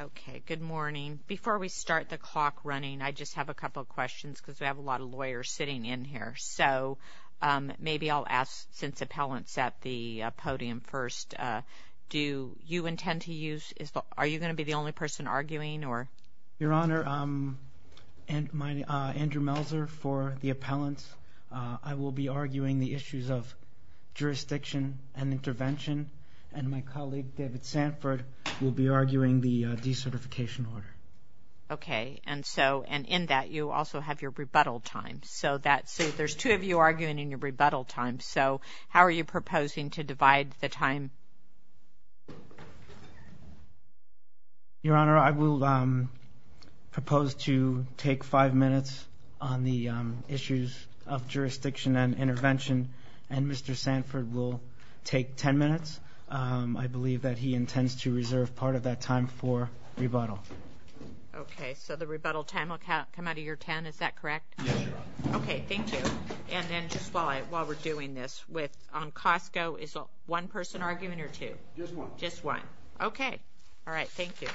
Okay, good morning. Before we start the clock running, I just have a couple of questions because we have a lot of lawyers sitting in here. So, maybe I'll ask since appellants are at the podium first, do you intend to use, are you going to be the only person arguing? Your Honor, Andrew Melzer for the appellants. I will be arguing the issues of jurisdiction and intervention, and my colleague, David Sanford, will be arguing the decertification order. Okay, and so, and in that, you also have your rebuttal time. So, there's two of you arguing in your rebuttal time. So, how are you proposing to divide the time? Your Honor, I will propose to take five minutes on the issues of jurisdiction and intervention, and Mr. Sanford will take ten minutes. I believe that he intends to reserve part of that time for rebuttal. Okay, so the rebuttal time will come out of your ten, is that correct? Yes, Your Honor. Okay, thank you. And then, just while we're doing this, on COSTCO, is one person arguing or two? Just one. Just one. Okay. All right, thank you.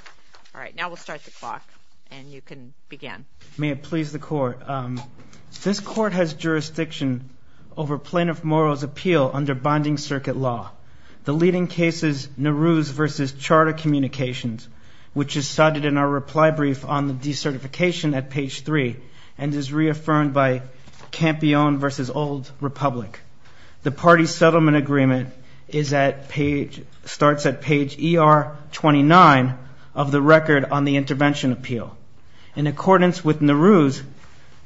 All right, now we'll start the clock, and you can begin. May it please the Court. This Court has jurisdiction over Plaintiff Morrow's appeal under binding circuit law. The leading case is Nowruz v. Charter Communications, which is cited in our reply brief on the decertification at page 3, and is reaffirmed by Campione v. Old Republic. The party settlement agreement is at page, starts at page ER 29 of the record on the intervention appeal. In accordance with Nowruz,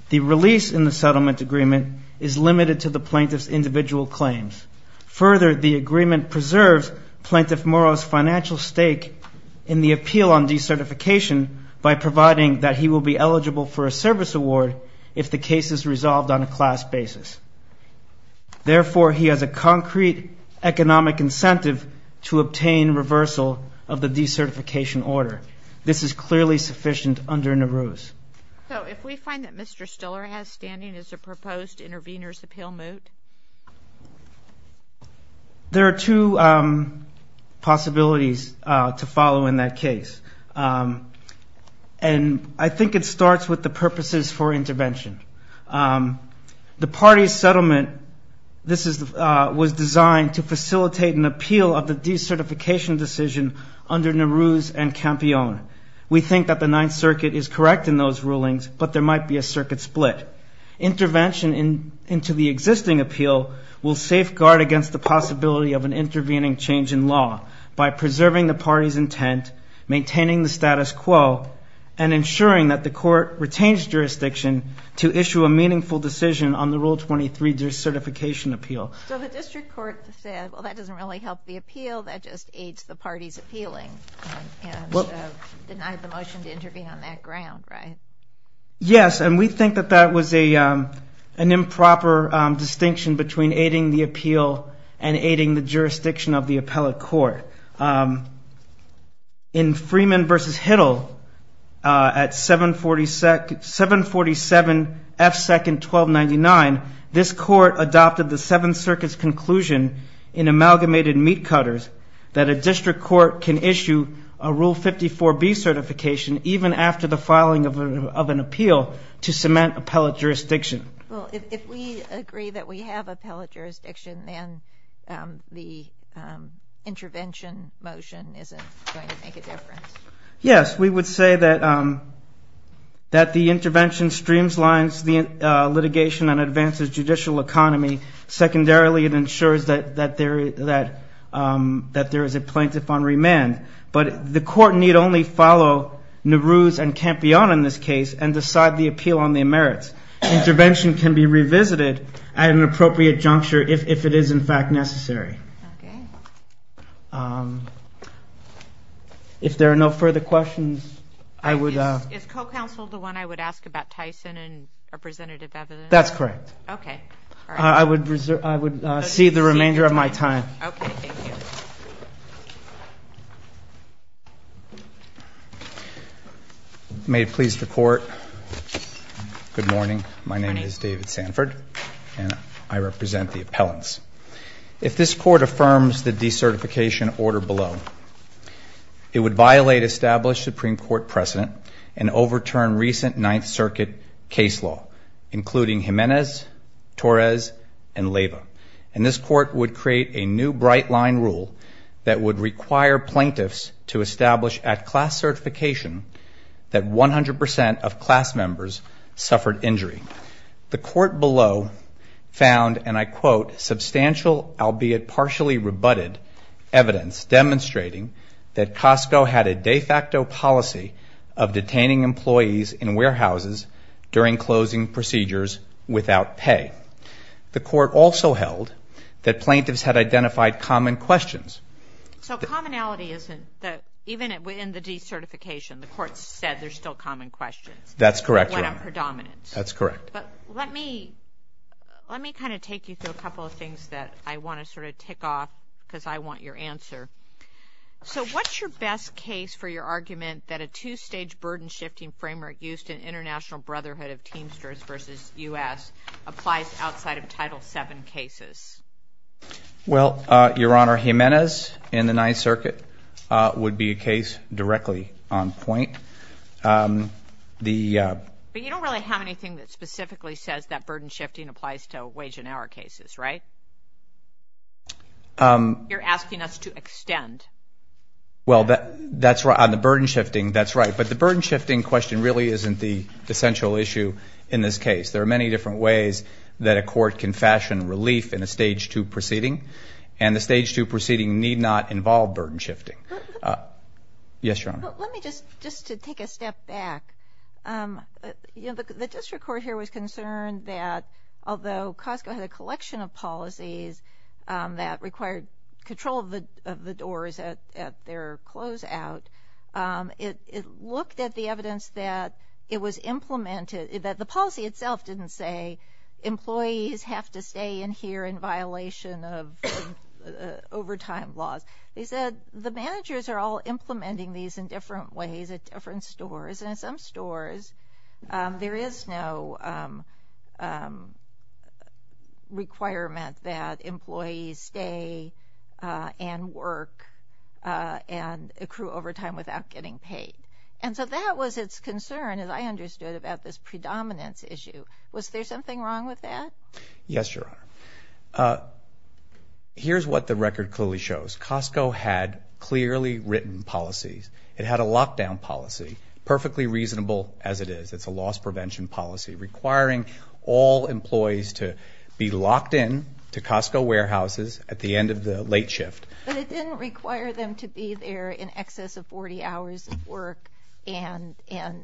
the release in the settlement agreement is limited to the plaintiff's individual claims. Further, the agreement preserves Plaintiff Morrow's financial stake in the appeal on decertification by providing that he will be eligible for a service award if the case is resolved on a class basis. Therefore, he has a concrete economic incentive to obtain reversal of the decertification order. This is clearly sufficient under Nowruz. So, if we find that Mr. Stiller has standing, is a proposed intervener's appeal moot? There are two possibilities to follow in that case, and I think it starts with the purposes for intervention. The party settlement, this was designed to facilitate an appeal of the We think that the Ninth Circuit is correct in those rulings, but there might be a circuit split. Intervention into the existing appeal will safeguard against the possibility of an intervening change in law by preserving the party's intent, maintaining the status quo, and ensuring that the court retains jurisdiction to issue a meaningful decision on the Rule 23 decertification appeal. So, the district court said, well, that doesn't really help the appeal, that just aids the motion to intervene on that ground, right? Yes, and we think that that was an improper distinction between aiding the appeal and aiding the jurisdiction of the appellate court. In Freeman v. Hittle, at 747 F. 2nd, 1299, this court adopted the Seventh Circuit's conclusion in amalgamated meat cutters that a district court can issue a Rule 54b certification even after the filing of an appeal to cement appellate jurisdiction. Well, if we agree that we have appellate jurisdiction, then the intervention motion isn't going to make a difference. Yes, we would say that the intervention streams lines the litigation and advances judicial economy. Secondarily, it ensures that there is a plaintiff on remand, but the court need only follow Nehru's and Campiona in this case and decide the appeal on their merits. Intervention can be revisited at an appropriate juncture if it is, in fact, necessary. Okay. If there are no further questions, I would... Is co-counsel the one I would ask about Tyson and representative evidence? That's correct. Okay. I would see the remainder of my time. Okay. Thank you. May it please the Court. Good morning. Good morning. My name is David Sanford, and I represent the appellants. If this Court affirms the decertification order below, it would violate established Supreme Court precedent and overturn recent Ninth Circuit case law, including Jimenez, Torres, and Leyva. And this Court would create a new bright line rule that would require plaintiffs to establish at class certification that 100% of class members suffered injury. The Court below found, and I quote, substantial, albeit partially rebutted, evidence demonstrating that Costco had a de facto policy of detaining employees in warehouses during closing procedures without pay. The Court also held that plaintiffs had identified common questions. So commonality isn't that even within the decertification, the Court said there's still common questions. That's correct, Your Honor. What are predominance? That's correct. But let me kind of take you through a couple of things that I want to sort of tick off because I want your answer. So what's your best case for your argument that a two-stage burden-shifting framework used in International Brotherhood of Teamsters v. U.S. applies outside of Title VII cases? Well, Your Honor, Jimenez in the Ninth Circuit would be a case directly on point. But you don't really have anything that specifically says that burden-shifting applies to wage and hour cases, right? You're asking us to extend. Well, that's right. On the burden-shifting, that's right. But the burden-shifting question really isn't the essential issue in this case. There are many different ways that a court can fashion relief in a Stage II proceeding, and the Stage II proceeding need not involve burden-shifting. Yes, Your Honor. Let me just, just to take a step back, you know, the district court here was concerned that although Costco had a collection of policies that required control of the doors at their closeout, it looked at the evidence that it was implemented, that the policy itself didn't say, employees have to stay in here in violation of overtime laws. They said the managers are all implementing these in different ways at different stores, and at some stores there is no requirement that employees stay and work and accrue overtime without getting paid. And so that was its concern, as I understood, about this predominance issue. Was there something wrong with that? Yes, Your Honor. Here's what the record clearly shows. Costco had clearly written policies. It had a lockdown policy, perfectly reasonable as it is. It's a loss prevention policy requiring all employees to be locked in to Costco warehouses at the end of the late shift. But it didn't require them to be there in excess of 40 hours of work and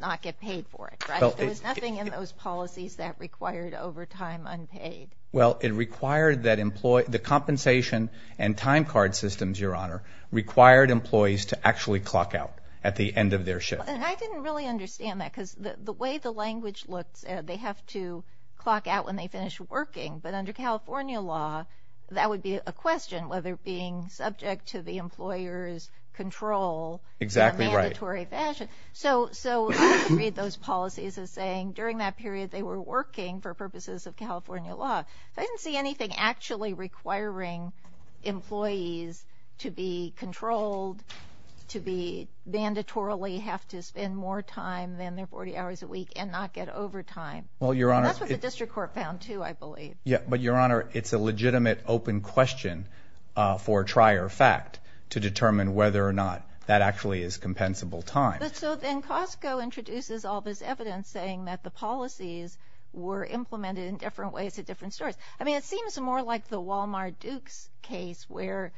not get paid for it, right? There was nothing in those policies that required overtime unpaid. Well, it required that the compensation and time card systems, Your Honor, required employees to actually clock out at the end of their shift. And I didn't really understand that because the way the language looks, they have to clock out when they finish working. But under California law, that would be a question, whether being subject to the employer's control in a mandatory fashion. Exactly right. So let's read those policies as saying during that period they were working for purposes of California law. I didn't see anything actually requiring employees to be controlled, to be mandatorily have to spend more time than their 40 hours a week and not get overtime. That's what the district court found too, I believe. Yeah, but Your Honor, it's a legitimate open question for trier fact to determine whether or not that actually is compensable time. So then Costco introduces all this evidence saying that the policies were implemented in different ways at different stores. I mean, it seems more like the Walmart Dukes case where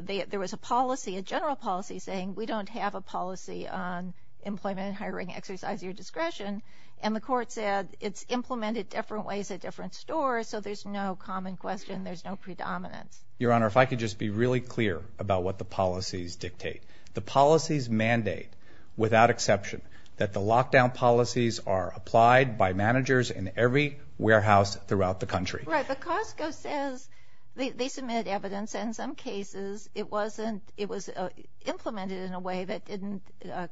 there was a policy, a general policy saying we don't have a policy on employment, hiring, exercise your discretion, and the court said it's implemented different ways at different stores, so there's no common question, there's no predominance. Your Honor, if I could just be really clear about what the policies dictate. The policies mandate, without exception, that the lockdown policies are applied by managers in every warehouse throughout the country. Right, but Costco says they submit evidence in some cases it wasn't, it was implemented in a way that didn't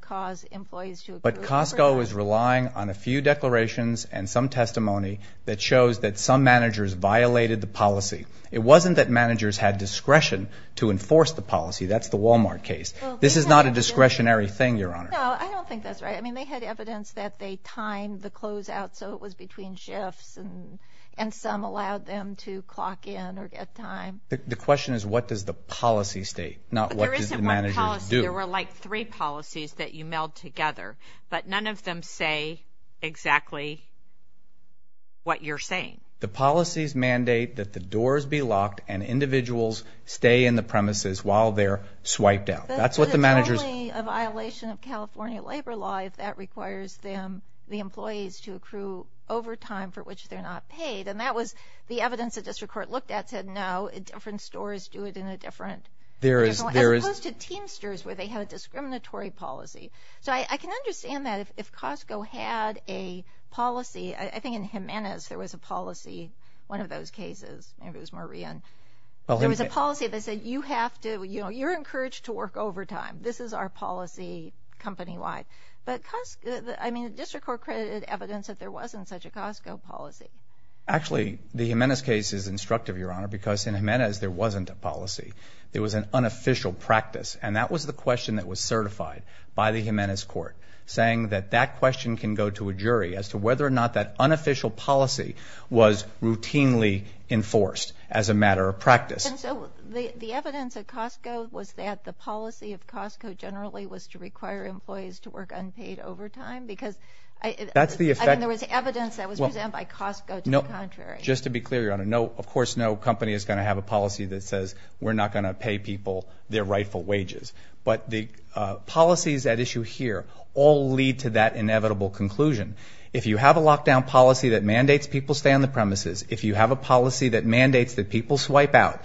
cause employees to agree. But Costco is relying on a few declarations and some testimony that shows that some managers violated the policy. It wasn't that managers had discretion to enforce the policy. That's the Walmart case. This is not a discretionary thing, Your Honor. No, I don't think that's right. I mean, they had evidence that they timed the closeout so it was between shifts and some allowed them to clock in or get time. The question is what does the policy state, not what do the managers do. There were like three policies that you mailed together, but none of them say exactly what you're saying. The policies mandate that the doors be locked and individuals stay in the premises while they're swiped out. But it's only a violation of California labor law if that requires the employees to accrue overtime for which they're not paid, and that was the evidence the district court looked at said no, different stores do it in a different way, as opposed to Teamsters where they had a discriminatory policy. So I can understand that if Costco had a policy, I think in Jimenez there was a policy, one of those cases, maybe it was Maria, there was a policy that said you have to, you know, you're encouraged to work overtime. This is our policy company-wide. But, I mean, the district court credited evidence that there wasn't such a Costco policy. Actually, the Jimenez case is instructive, Your Honor, because in Jimenez there wasn't a policy. It was an unofficial practice, and that was the question that was certified by the Jimenez court, saying that that question can go to a jury as to whether or not that unofficial policy was routinely enforced as a matter of practice. And so the evidence at Costco was that the policy of Costco generally was to require employees to work unpaid overtime? I mean, there was evidence that was presented by Costco to the contrary. Just to be clear, Your Honor, of course no company is going to have a policy that says we're not going to pay people their rightful wages. But the policies at issue here all lead to that inevitable conclusion. If you have a lockdown policy that mandates people stay on the premises, if you have a policy that mandates that people swipe out,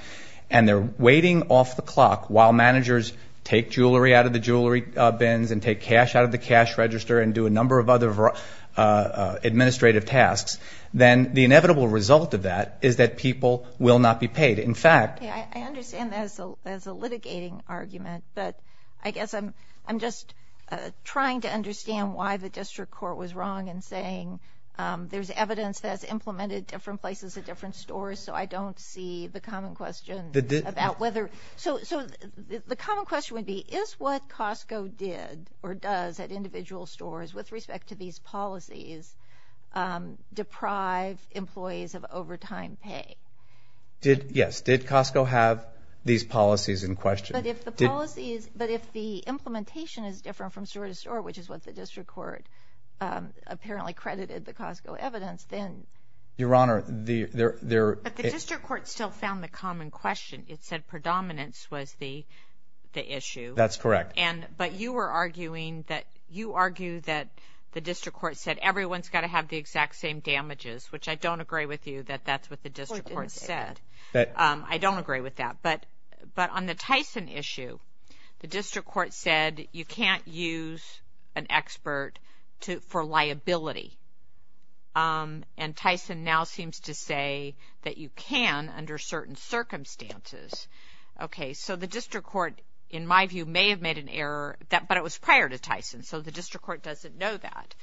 and they're waiting off the clock while managers take jewelry out of the jewelry bins and take cash out of the cash register and do a number of other administrative tasks, then the inevitable result of that is that people will not be paid. In fact, I understand that as a litigating argument, but I guess I'm just trying to understand why the district court was wrong in saying there's evidence that's implemented different places at different stores, so I don't see the common question about whether. So the common question would be, is what Costco did or does at individual stores with respect to these policies deprive employees of overtime pay? Yes. Did Costco have these policies in question? But if the implementation is different from store to store, which is what the district court apparently credited the Costco evidence, then. Your Honor, there... But the district court still found the common question. It said predominance was the issue. That's correct. But you were arguing that you argue that the district court said everyone's got to have the exact same damages, which I don't agree with you that that's what the district court said. I don't agree with that. But on the Tyson issue, the district court said you can't use an expert for liability, and Tyson now seems to say that you can under certain circumstances. Okay, so the district court, in my view, may have made an error, but it was prior to Tyson, so the district court doesn't know that.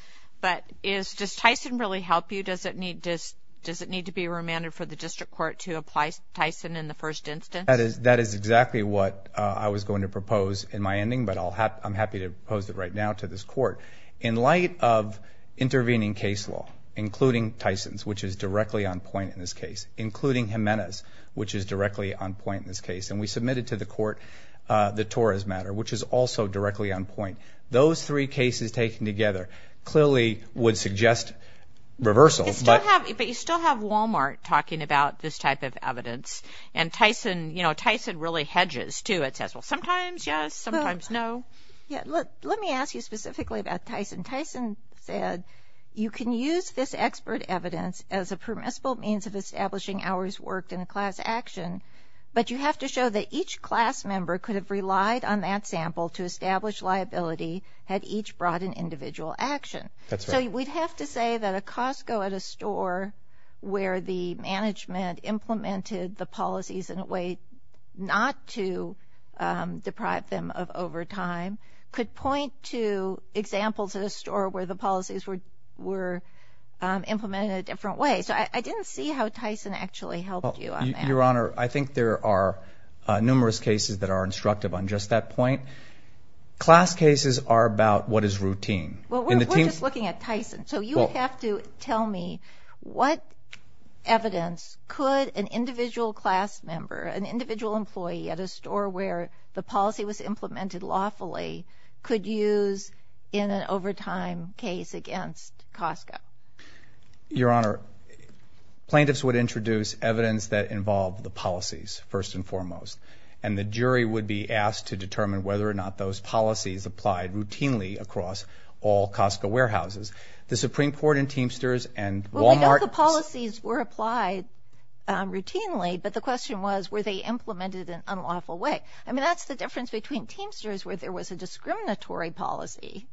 But does Tyson really help you? Does it need to be remanded for the district court to apply Tyson in the first instance? That is exactly what I was going to propose in my ending, but I'm happy to propose it right now to this court. In light of intervening case law, including Tyson's, which is directly on point in this case, including Jimenez, which is directly on point in this case, and we submitted to the court the Torres matter, which is also directly on point, those three cases taken together clearly would suggest reversal. But you still have Wal-Mart talking about this type of evidence, and Tyson really hedges, too. It says, well, sometimes yes, sometimes no. Let me ask you specifically about Tyson. Tyson said you can use this expert evidence as a permissible means of establishing hours worked in a class action, but you have to show that each class member could have relied on that sample to establish liability had each brought an individual action. So we'd have to say that a Costco at a store where the management implemented the policies in a way not to deprive them of overtime could point to examples at a store where the policies were implemented in a different way. So I didn't see how Tyson actually helped you on that. Your Honor, I think there are numerous cases that are instructive on just that point. Class cases are about what is routine. Well, we're just looking at Tyson, so you would have to tell me what evidence could an individual class member, an individual employee at a store where the policy was implemented lawfully, could use in an overtime case against Costco? Your Honor, plaintiffs would introduce evidence that involved the policies first and foremost, and the jury would be asked to determine whether or not those policies applied routinely across all Costco warehouses. The Supreme Court in Teamsters and Wal-Mart. Well, we know the policies were applied routinely, but the question was were they implemented in an unlawful way. I mean, that's the difference between Teamsters where there was a discriminatory policy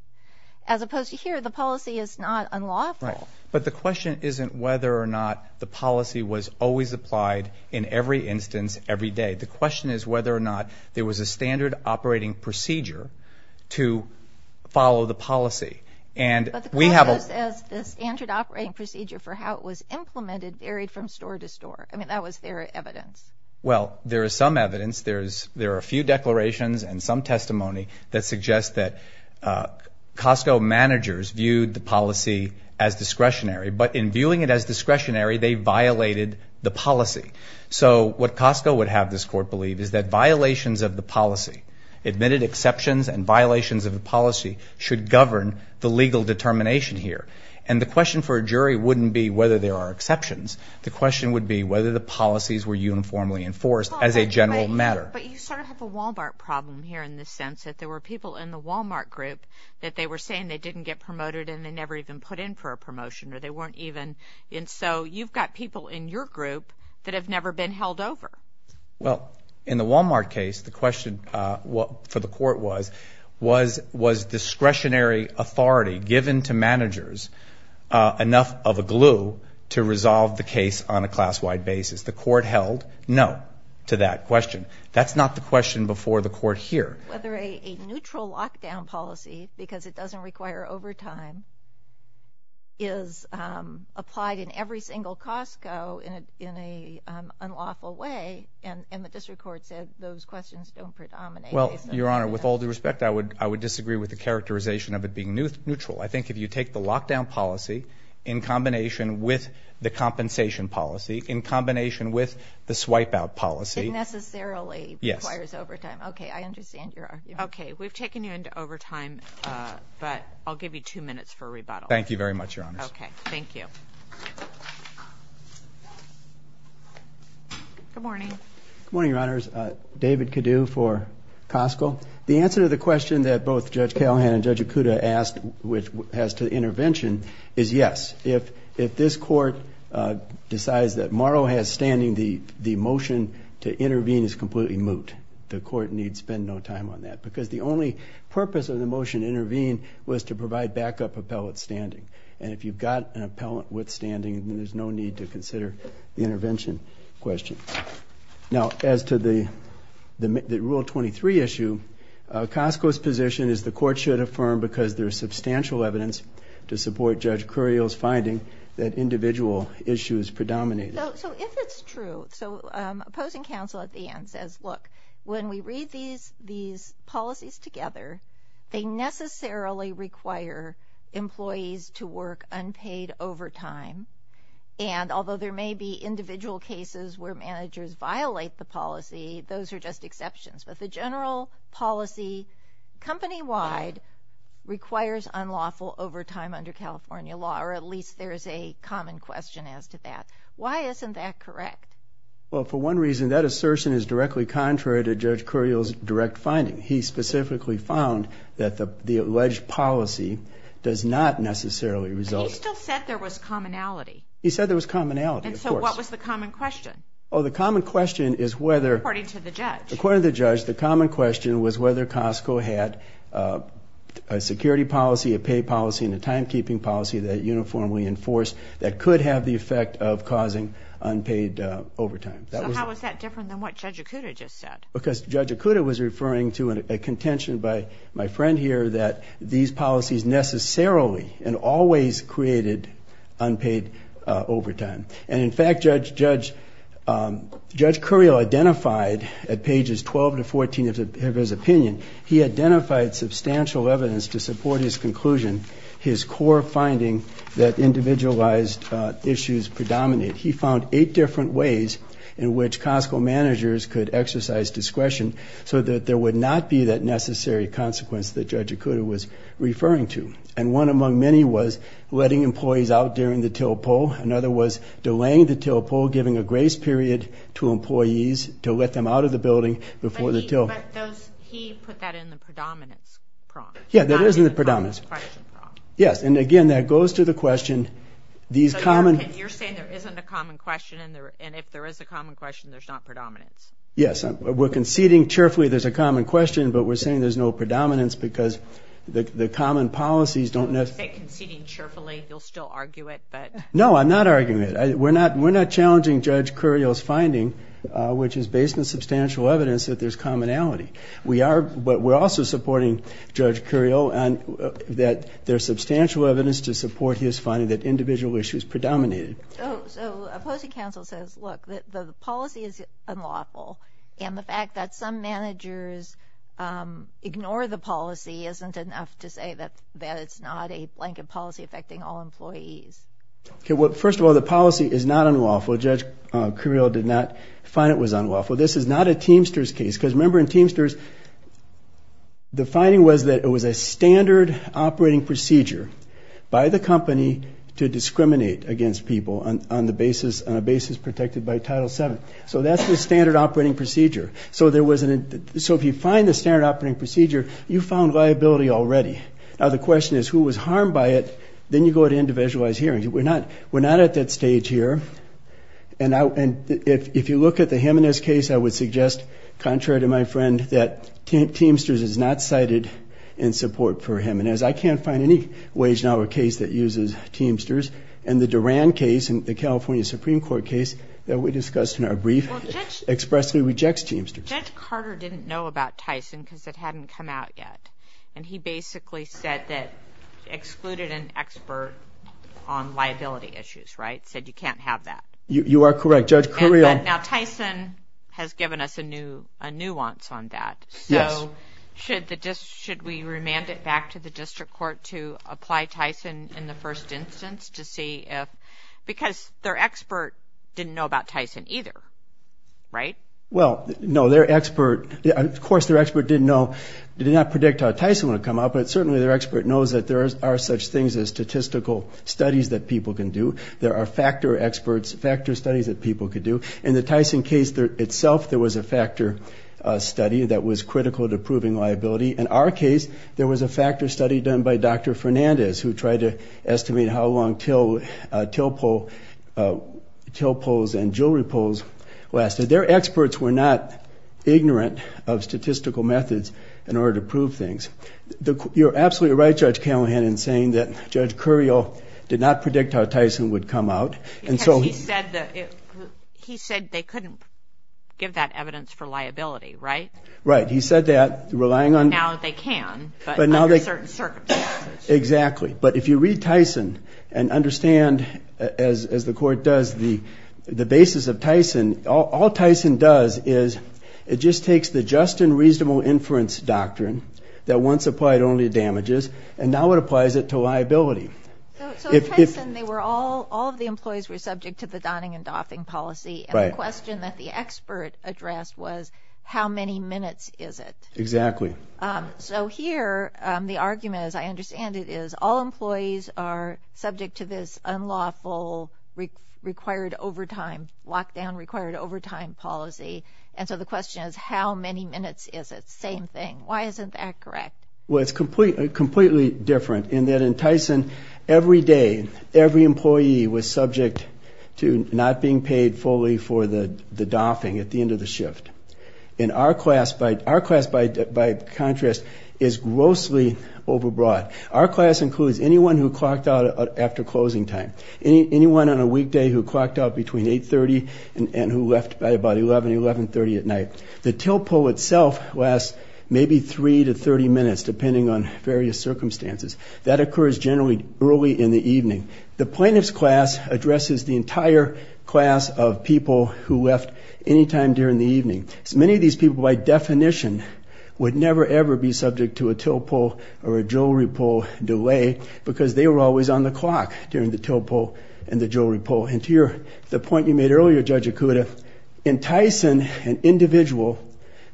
as opposed to here, the policy is not unlawful. Right. But the question isn't whether or not the policy was always applied in every instance every day. The question is whether or not there was a standard operating procedure to follow the policy. But the policy says the standard operating procedure for how it was implemented varied from store to store. I mean, that was their evidence. Well, there is some evidence. There are a few declarations and some testimony that suggests that Costco managers viewed the policy as discretionary, but in viewing it as discretionary, they violated the policy. So what Costco would have this court believe is that violations of the policy, admitted exceptions and violations of the policy, should govern the legal determination here. And the question for a jury wouldn't be whether there are exceptions. The question would be whether the policies were uniformly enforced as a general matter. But you sort of have a Wal-Mart problem here in the sense that there were people in the Wal-Mart group that they were saying they didn't get promoted and they never even put in for a promotion or they weren't even. And so you've got people in your group that have never been held over. Well, in the Wal-Mart case, the question for the court was, was discretionary authority given to managers enough of a glue to resolve the case on a class-wide basis? The court held no to that question. That's not the question before the court here. Whether a neutral lockdown policy, because it doesn't require overtime, is applied in every single Costco in an unlawful way. And the district court said those questions don't predominate. Well, Your Honor, with all due respect, I would disagree with the characterization of it being neutral. I think if you take the lockdown policy in combination with the compensation policy, in combination with the swipe-out policy. It necessarily requires overtime. Yes. Okay, I understand your argument. Okay, we've taken you into overtime, but I'll give you two minutes for rebuttal. Thank you very much, Your Honors. Okay, thank you. Good morning. Good morning, Your Honors. David Cadue for Costco. The answer to the question that both Judge Callahan and Judge Okuda asked, which has to do with intervention, is yes. If this court decides that Morrow has standing, the motion to intervene is completely moot. The court needs to spend no time on that. Because the only purpose of the motion to intervene was to provide backup appellate standing. And if you've got an appellate with standing, then there's no need to consider the intervention question. Now, as to the Rule 23 issue, Costco's position is the court should affirm, because there is substantial evidence to support Judge Curiel's finding that individual issues predominate. So if it's true, so opposing counsel at the end says, look, when we read these policies together, they necessarily require employees to work unpaid overtime. And although there may be individual cases where managers violate the policy, those are just exceptions. But the general policy, company-wide, requires unlawful overtime under California law, or at least there is a common question as to that. Why isn't that correct? Well, for one reason, that assertion is directly contrary to Judge Curiel's direct finding. He specifically found that the alleged policy does not necessarily result. But he still said there was commonality. He said there was commonality, of course. And so what was the common question? Oh, the common question is whether... According to the judge. According to the judge, the common question was whether Costco had a security policy, a pay policy, and a timekeeping policy that uniformly enforced that could have the effect of causing unpaid overtime. So how is that different than what Judge Okuda just said? Because Judge Okuda was referring to a contention by my friend here that these policies necessarily and always created unpaid overtime. And, in fact, Judge Curiel identified at pages 12 to 14 of his opinion, he identified substantial evidence to support his conclusion, his core finding that individualized issues predominate. He found eight different ways in which Costco managers could exercise discretion so that there would not be that necessary consequence that Judge Okuda was referring to. And one among many was letting employees out during the till pull. Another was delaying the till pull, giving a grace period to employees to let them out of the building before the till. But he put that in the predominance prompt. Yeah, that is in the predominance. Yes, and, again, that goes to the question... You're saying there isn't a common question, and if there is a common question, there's not predominance. Yes. We're conceding cheerfully there's a common question, but we're saying there's no predominance because the common policies don't necessarily... You say conceding cheerfully. You'll still argue it, but... No, I'm not arguing it. We're not challenging Judge Curiel's finding, which is based on substantial evidence that there's commonality. We are, but we're also supporting Judge Curiel that there's substantial evidence to support his finding that individual issues predominated. Oh, so opposing counsel says, look, the policy is unlawful, and the fact that some managers ignore the policy isn't enough to say that it's not a blanket policy affecting all employees. Okay, well, first of all, the policy is not unlawful. Judge Curiel did not find it was unlawful. This is not a Teamsters case because, remember, in Teamsters, the finding was that it was a standard operating procedure by the company to discriminate against people on a basis protected by Title VII. So that's the standard operating procedure. So if you find the standard operating procedure, you found liability already. Now, the question is, who was harmed by it? Then you go to individualized hearings. We're not at that stage here, and if you look at the Jimenez case, I would suggest, contrary to my friend, that Teamsters is not cited in support for him. And as I can't find any wage-dollar case that uses Teamsters, and the Duran case, the California Supreme Court case that we discussed in our brief expressly rejects Teamsters. Judge Carter didn't know about Tyson because it hadn't come out yet, and he basically said that excluded an expert on liability issues, right, said you can't have that. You are correct. Now, Tyson has given us a nuance on that. Yes. So should we remand it back to the district court to apply Tyson in the first instance to see if – because their expert didn't know about Tyson either, right? Well, no, their expert – of course, their expert did not predict how Tyson would come out, but certainly their expert knows that there are such things as statistical studies that people can do. There are factor experts, factor studies that people can do. In the Tyson case itself, there was a factor study that was critical to proving liability. In our case, there was a factor study done by Dr. Fernandez, who tried to estimate how long till poles and jewelry poles lasted. Their experts were not ignorant of statistical methods in order to prove things. You're absolutely right, Judge Callahan, in saying that Judge Curiel did not predict how Tyson would come out. Because he said they couldn't give that evidence for liability, right? Right. He said that relying on – Now they can, but under certain circumstances. Exactly. But if you read Tyson and understand, as the court does, the basis of Tyson, all Tyson does is it just takes the just and reasonable inference doctrine that once applied only to damages, and now it applies it to liability. So in Tyson, they were all – all of the employees were subject to the donning and doffing policy. Right. And the question that the expert addressed was how many minutes is it? Exactly. So here, the argument, as I understand it, is all employees are subject to this unlawful required overtime, lockdown required overtime policy. And so the question is how many minutes is it? Same thing. Why isn't that correct? Well, it's completely different in that in Tyson, every day, every employee was subject to not being paid fully for the doffing at the end of the shift. In our class – our class, by contrast, is grossly overbroad. Our class includes anyone who clocked out after closing time, anyone on a weekday who clocked out between 8.30 and who left by about 11, 11.30 at night. The till pull itself lasts maybe 3 to 30 minutes, depending on various circumstances. That occurs generally early in the evening. The plaintiff's class addresses the entire class of people who left any time during the evening. Many of these people, by definition, would never, ever be subject to a till pull or a jewelry pull delay because they were always on the clock during the till pull and the jewelry pull. And to the point you made earlier, Judge Okuda, in Tyson, an individual,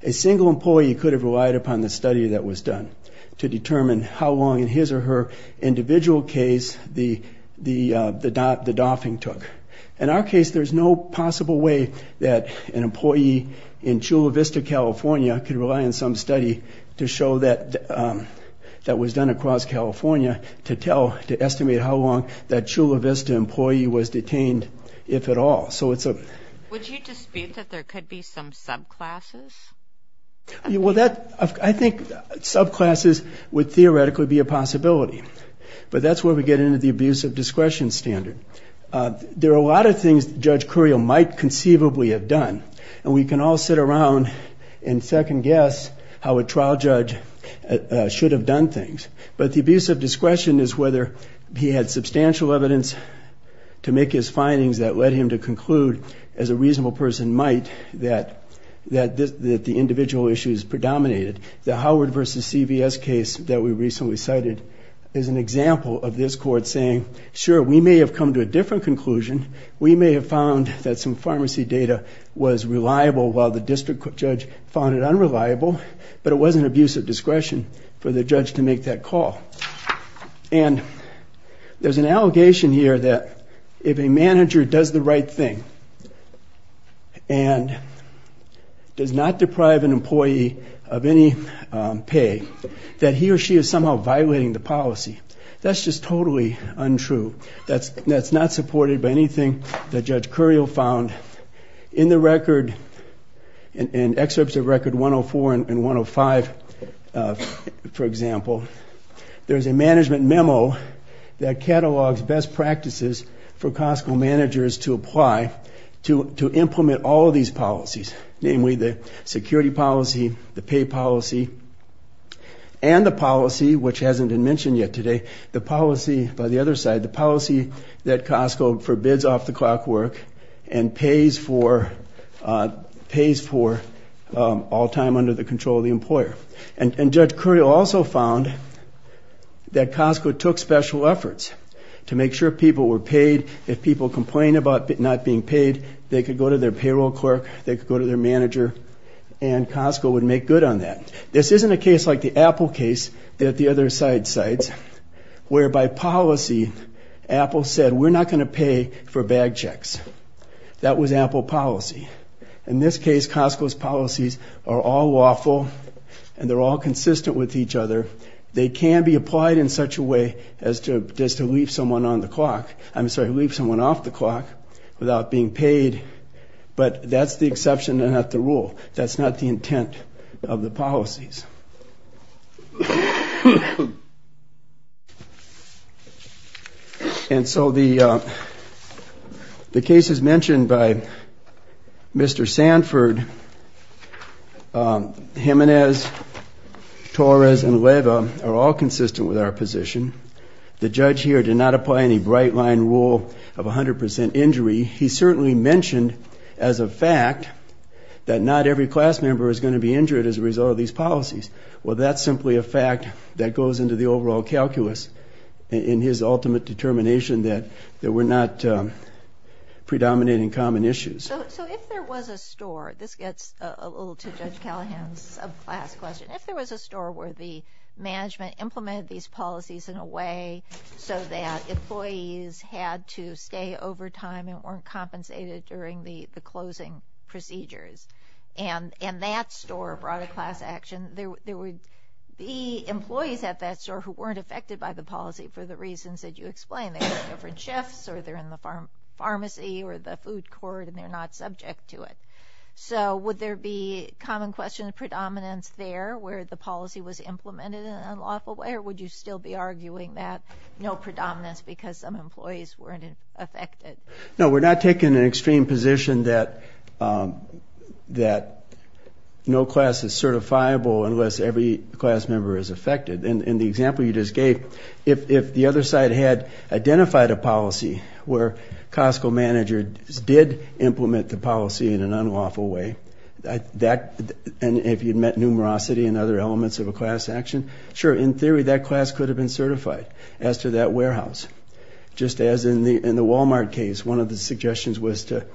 a single employee could have relied upon the study that was done to determine how long, in his or her individual case, the doffing took. In our case, there's no possible way that an employee in Chula Vista, California, could rely on some study to show that that was done across California to tell, to estimate how long that Chula Vista employee was detained, if at all. Would you dispute that there could be some subclasses? Well, I think subclasses would theoretically be a possibility, but that's where we get into the abuse of discretion standard. There are a lot of things that Judge Curiel might conceivably have done, and we can all sit around and second guess how a trial judge should have done things. But the abuse of discretion is whether he had substantial evidence to make his findings that led him to conclude, as a reasonable person might, that the individual issues predominated. The Howard v. CVS case that we recently cited is an example of this court saying, sure, we may have come to a different conclusion. We may have found that some pharmacy data was reliable while the district judge found it unreliable, but it wasn't abuse of discretion for the judge to make that call. And there's an allegation here that if a manager does the right thing and does not deprive an employee of any pay, that he or she is somehow violating the policy. That's just totally untrue. That's not supported by anything that Judge Curiel found in the record, in excerpts of Record 104 and 105, for example. There's a management memo that catalogs best practices for Costco managers to apply to implement all of these policies, namely the security policy, the pay policy, and the policy, which hasn't been mentioned yet today, the policy, by the other side, the policy that Costco forbids off-the-clock work and pays for all time under the control of the employer. And Judge Curiel also found that Costco took special efforts to make sure people were paid. If people complained about not being paid, they could go to their payroll clerk, they could go to their manager, and Costco would make good on that. This isn't a case like the Apple case that the other side cites, where, by policy, Apple said, we're not going to pay for bag checks. That was Apple policy. In this case, Costco's policies are all lawful, and they're all consistent with each other. They can be applied in such a way as to leave someone off the clock without being paid, but that's the exception, not the rule. That's not the intent of the policies. And so the cases mentioned by Mr. Sanford, Jimenez, Torres, and Leyva are all consistent with our position. The judge here did not apply any bright-line rule of 100% injury. He certainly mentioned as a fact that not every class member is going to be injured as a result of these policies. Well, that's simply a fact that goes into the overall calculus in his ultimate determination that we're not predominating common issues. So if there was a store, this gets a little to Judge Callahan's subclass question, if there was a store where the management implemented these policies in a way so that employees had to stay overtime and weren't compensated during the closing procedures, and that store brought a class action, there would be employees at that store who weren't affected by the policy for the reasons that you explained. They were different chefs or they're in the pharmacy or the food court, and they're not subject to it. So would there be common questions of predominance there where the policy was implemented in an unlawful way, or would you still be arguing that no predominance because some employees weren't affected? No, we're not taking an extreme position that no class is certifiable unless every class member is affected. In the example you just gave, if the other side had identified a policy where Costco managers did implement the policy in an unlawful way, and if you'd met numerosity and other elements of a class action, sure, in theory that class could have been certified as to that warehouse. Just as in the Walmart case, one of the suggestions was to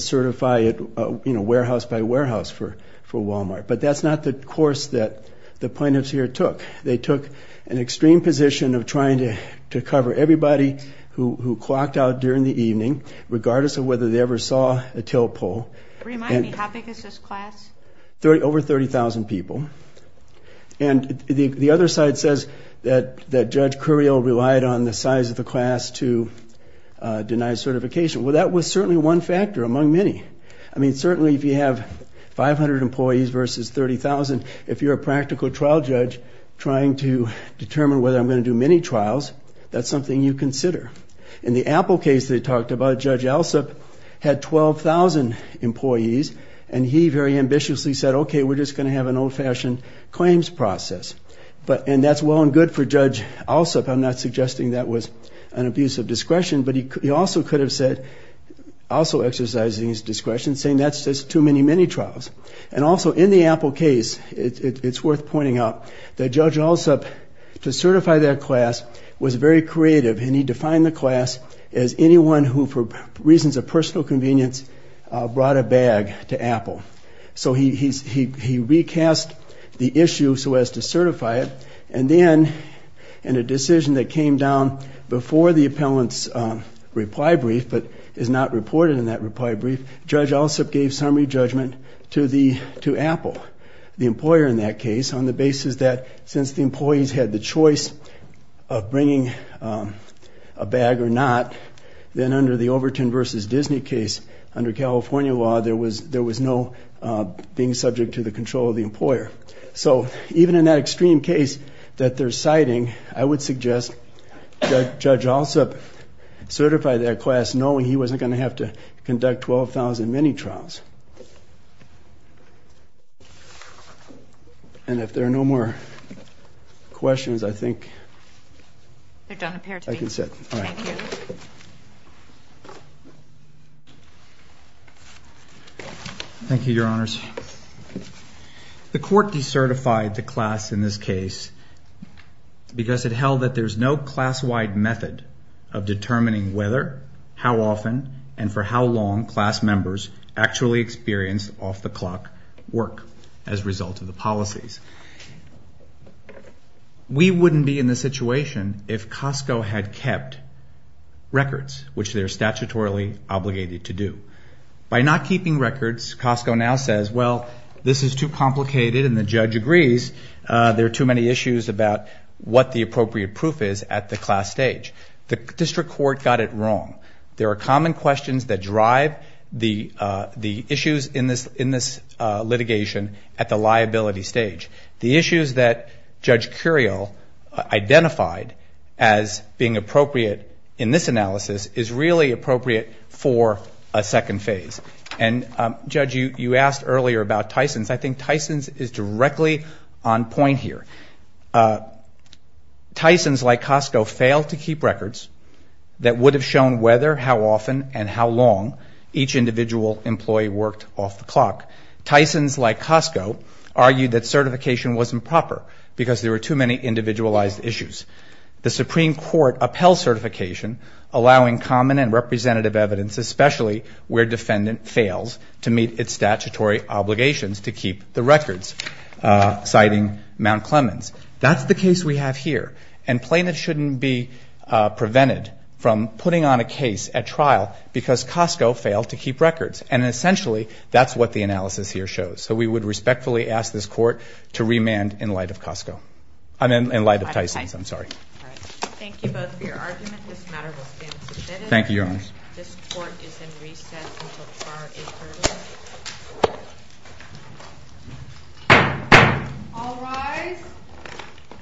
certify it warehouse by warehouse for Walmart. But that's not the course that the plaintiffs here took. They took an extreme position of trying to cover everybody who clocked out during the evening, regardless of whether they ever saw a tailpole. Remind me, how big is this class? Over 30,000 people. And the other side says that Judge Curiel relied on the size of the class to deny certification. Well, that was certainly one factor among many. I mean, certainly if you have 500 employees versus 30,000, if you're a practical trial judge trying to determine whether I'm going to do many trials, that's something you consider. In the Apple case they talked about, Judge Alsup had 12,000 employees, and he very ambitiously said, okay, we're just going to have an old-fashioned claims process. And that's well and good for Judge Alsup. I'm not suggesting that was an abuse of discretion, but he also could have said, also exercising his discretion, saying that's just too many, many trials. And also in the Apple case, it's worth pointing out that Judge Alsup, to certify that class, was very creative, and he defined the class as anyone who, for reasons of personal convenience, brought a bag to Apple. So he recast the issue so as to certify it. And then in a decision that came down before the appellant's reply brief, but is not reported in that reply brief, Judge Alsup gave summary judgment to Apple, the employer in that case, on the basis that since the employees had the choice of bringing a bag or not, then under the Overton v. Disney case, under California law, there was no being subject to the control of the employer. So even in that extreme case that they're citing, I would suggest Judge Alsup certify that class, knowing he wasn't going to have to conduct 12,000 mini-trials. And if there are no more questions, I think I can sit. All right. Thank you. Thank you, Your Honors. The court decertified the class in this case because it held that there's no class-wide method of determining whether, how often, and for how long class members actually experience off-the-clock work as a result of the policies. We wouldn't be in this situation if Costco had kept records, which they're statutorily obligated to do. By not keeping records, Costco now says, well, this is too complicated. And the judge agrees there are too many issues about what the appropriate proof is at the class stage. The district court got it wrong. There are common questions that drive the issues in this litigation at the liability stage. The issues that Judge Curiel identified as being appropriate in this analysis is really appropriate for a second phase. And, Judge, you asked earlier about Tysons. I think Tysons is directly on point here. Tysons, like Costco, failed to keep records that would have shown whether, how often, and how long each individual employee worked off-the-clock. Tysons, like Costco, argued that certification wasn't proper because there were too many individualized issues. The Supreme Court upheld certification, allowing common and representative evidence, especially where defendant fails to meet its statutory obligations to keep the records, citing Mount Clemens. That's the case we have here. And plaintiffs shouldn't be prevented from putting on a case at trial because Costco failed to keep records. And, essentially, that's what the analysis here shows. So we would respectfully ask this Court to remand in light of Costco. I mean, in light of Tysons, I'm sorry. Thank you both for your argument. This matter will stand submitted. Thank you, Your Honor. This Court is in recess until tomorrow at 8 p.m. All rise.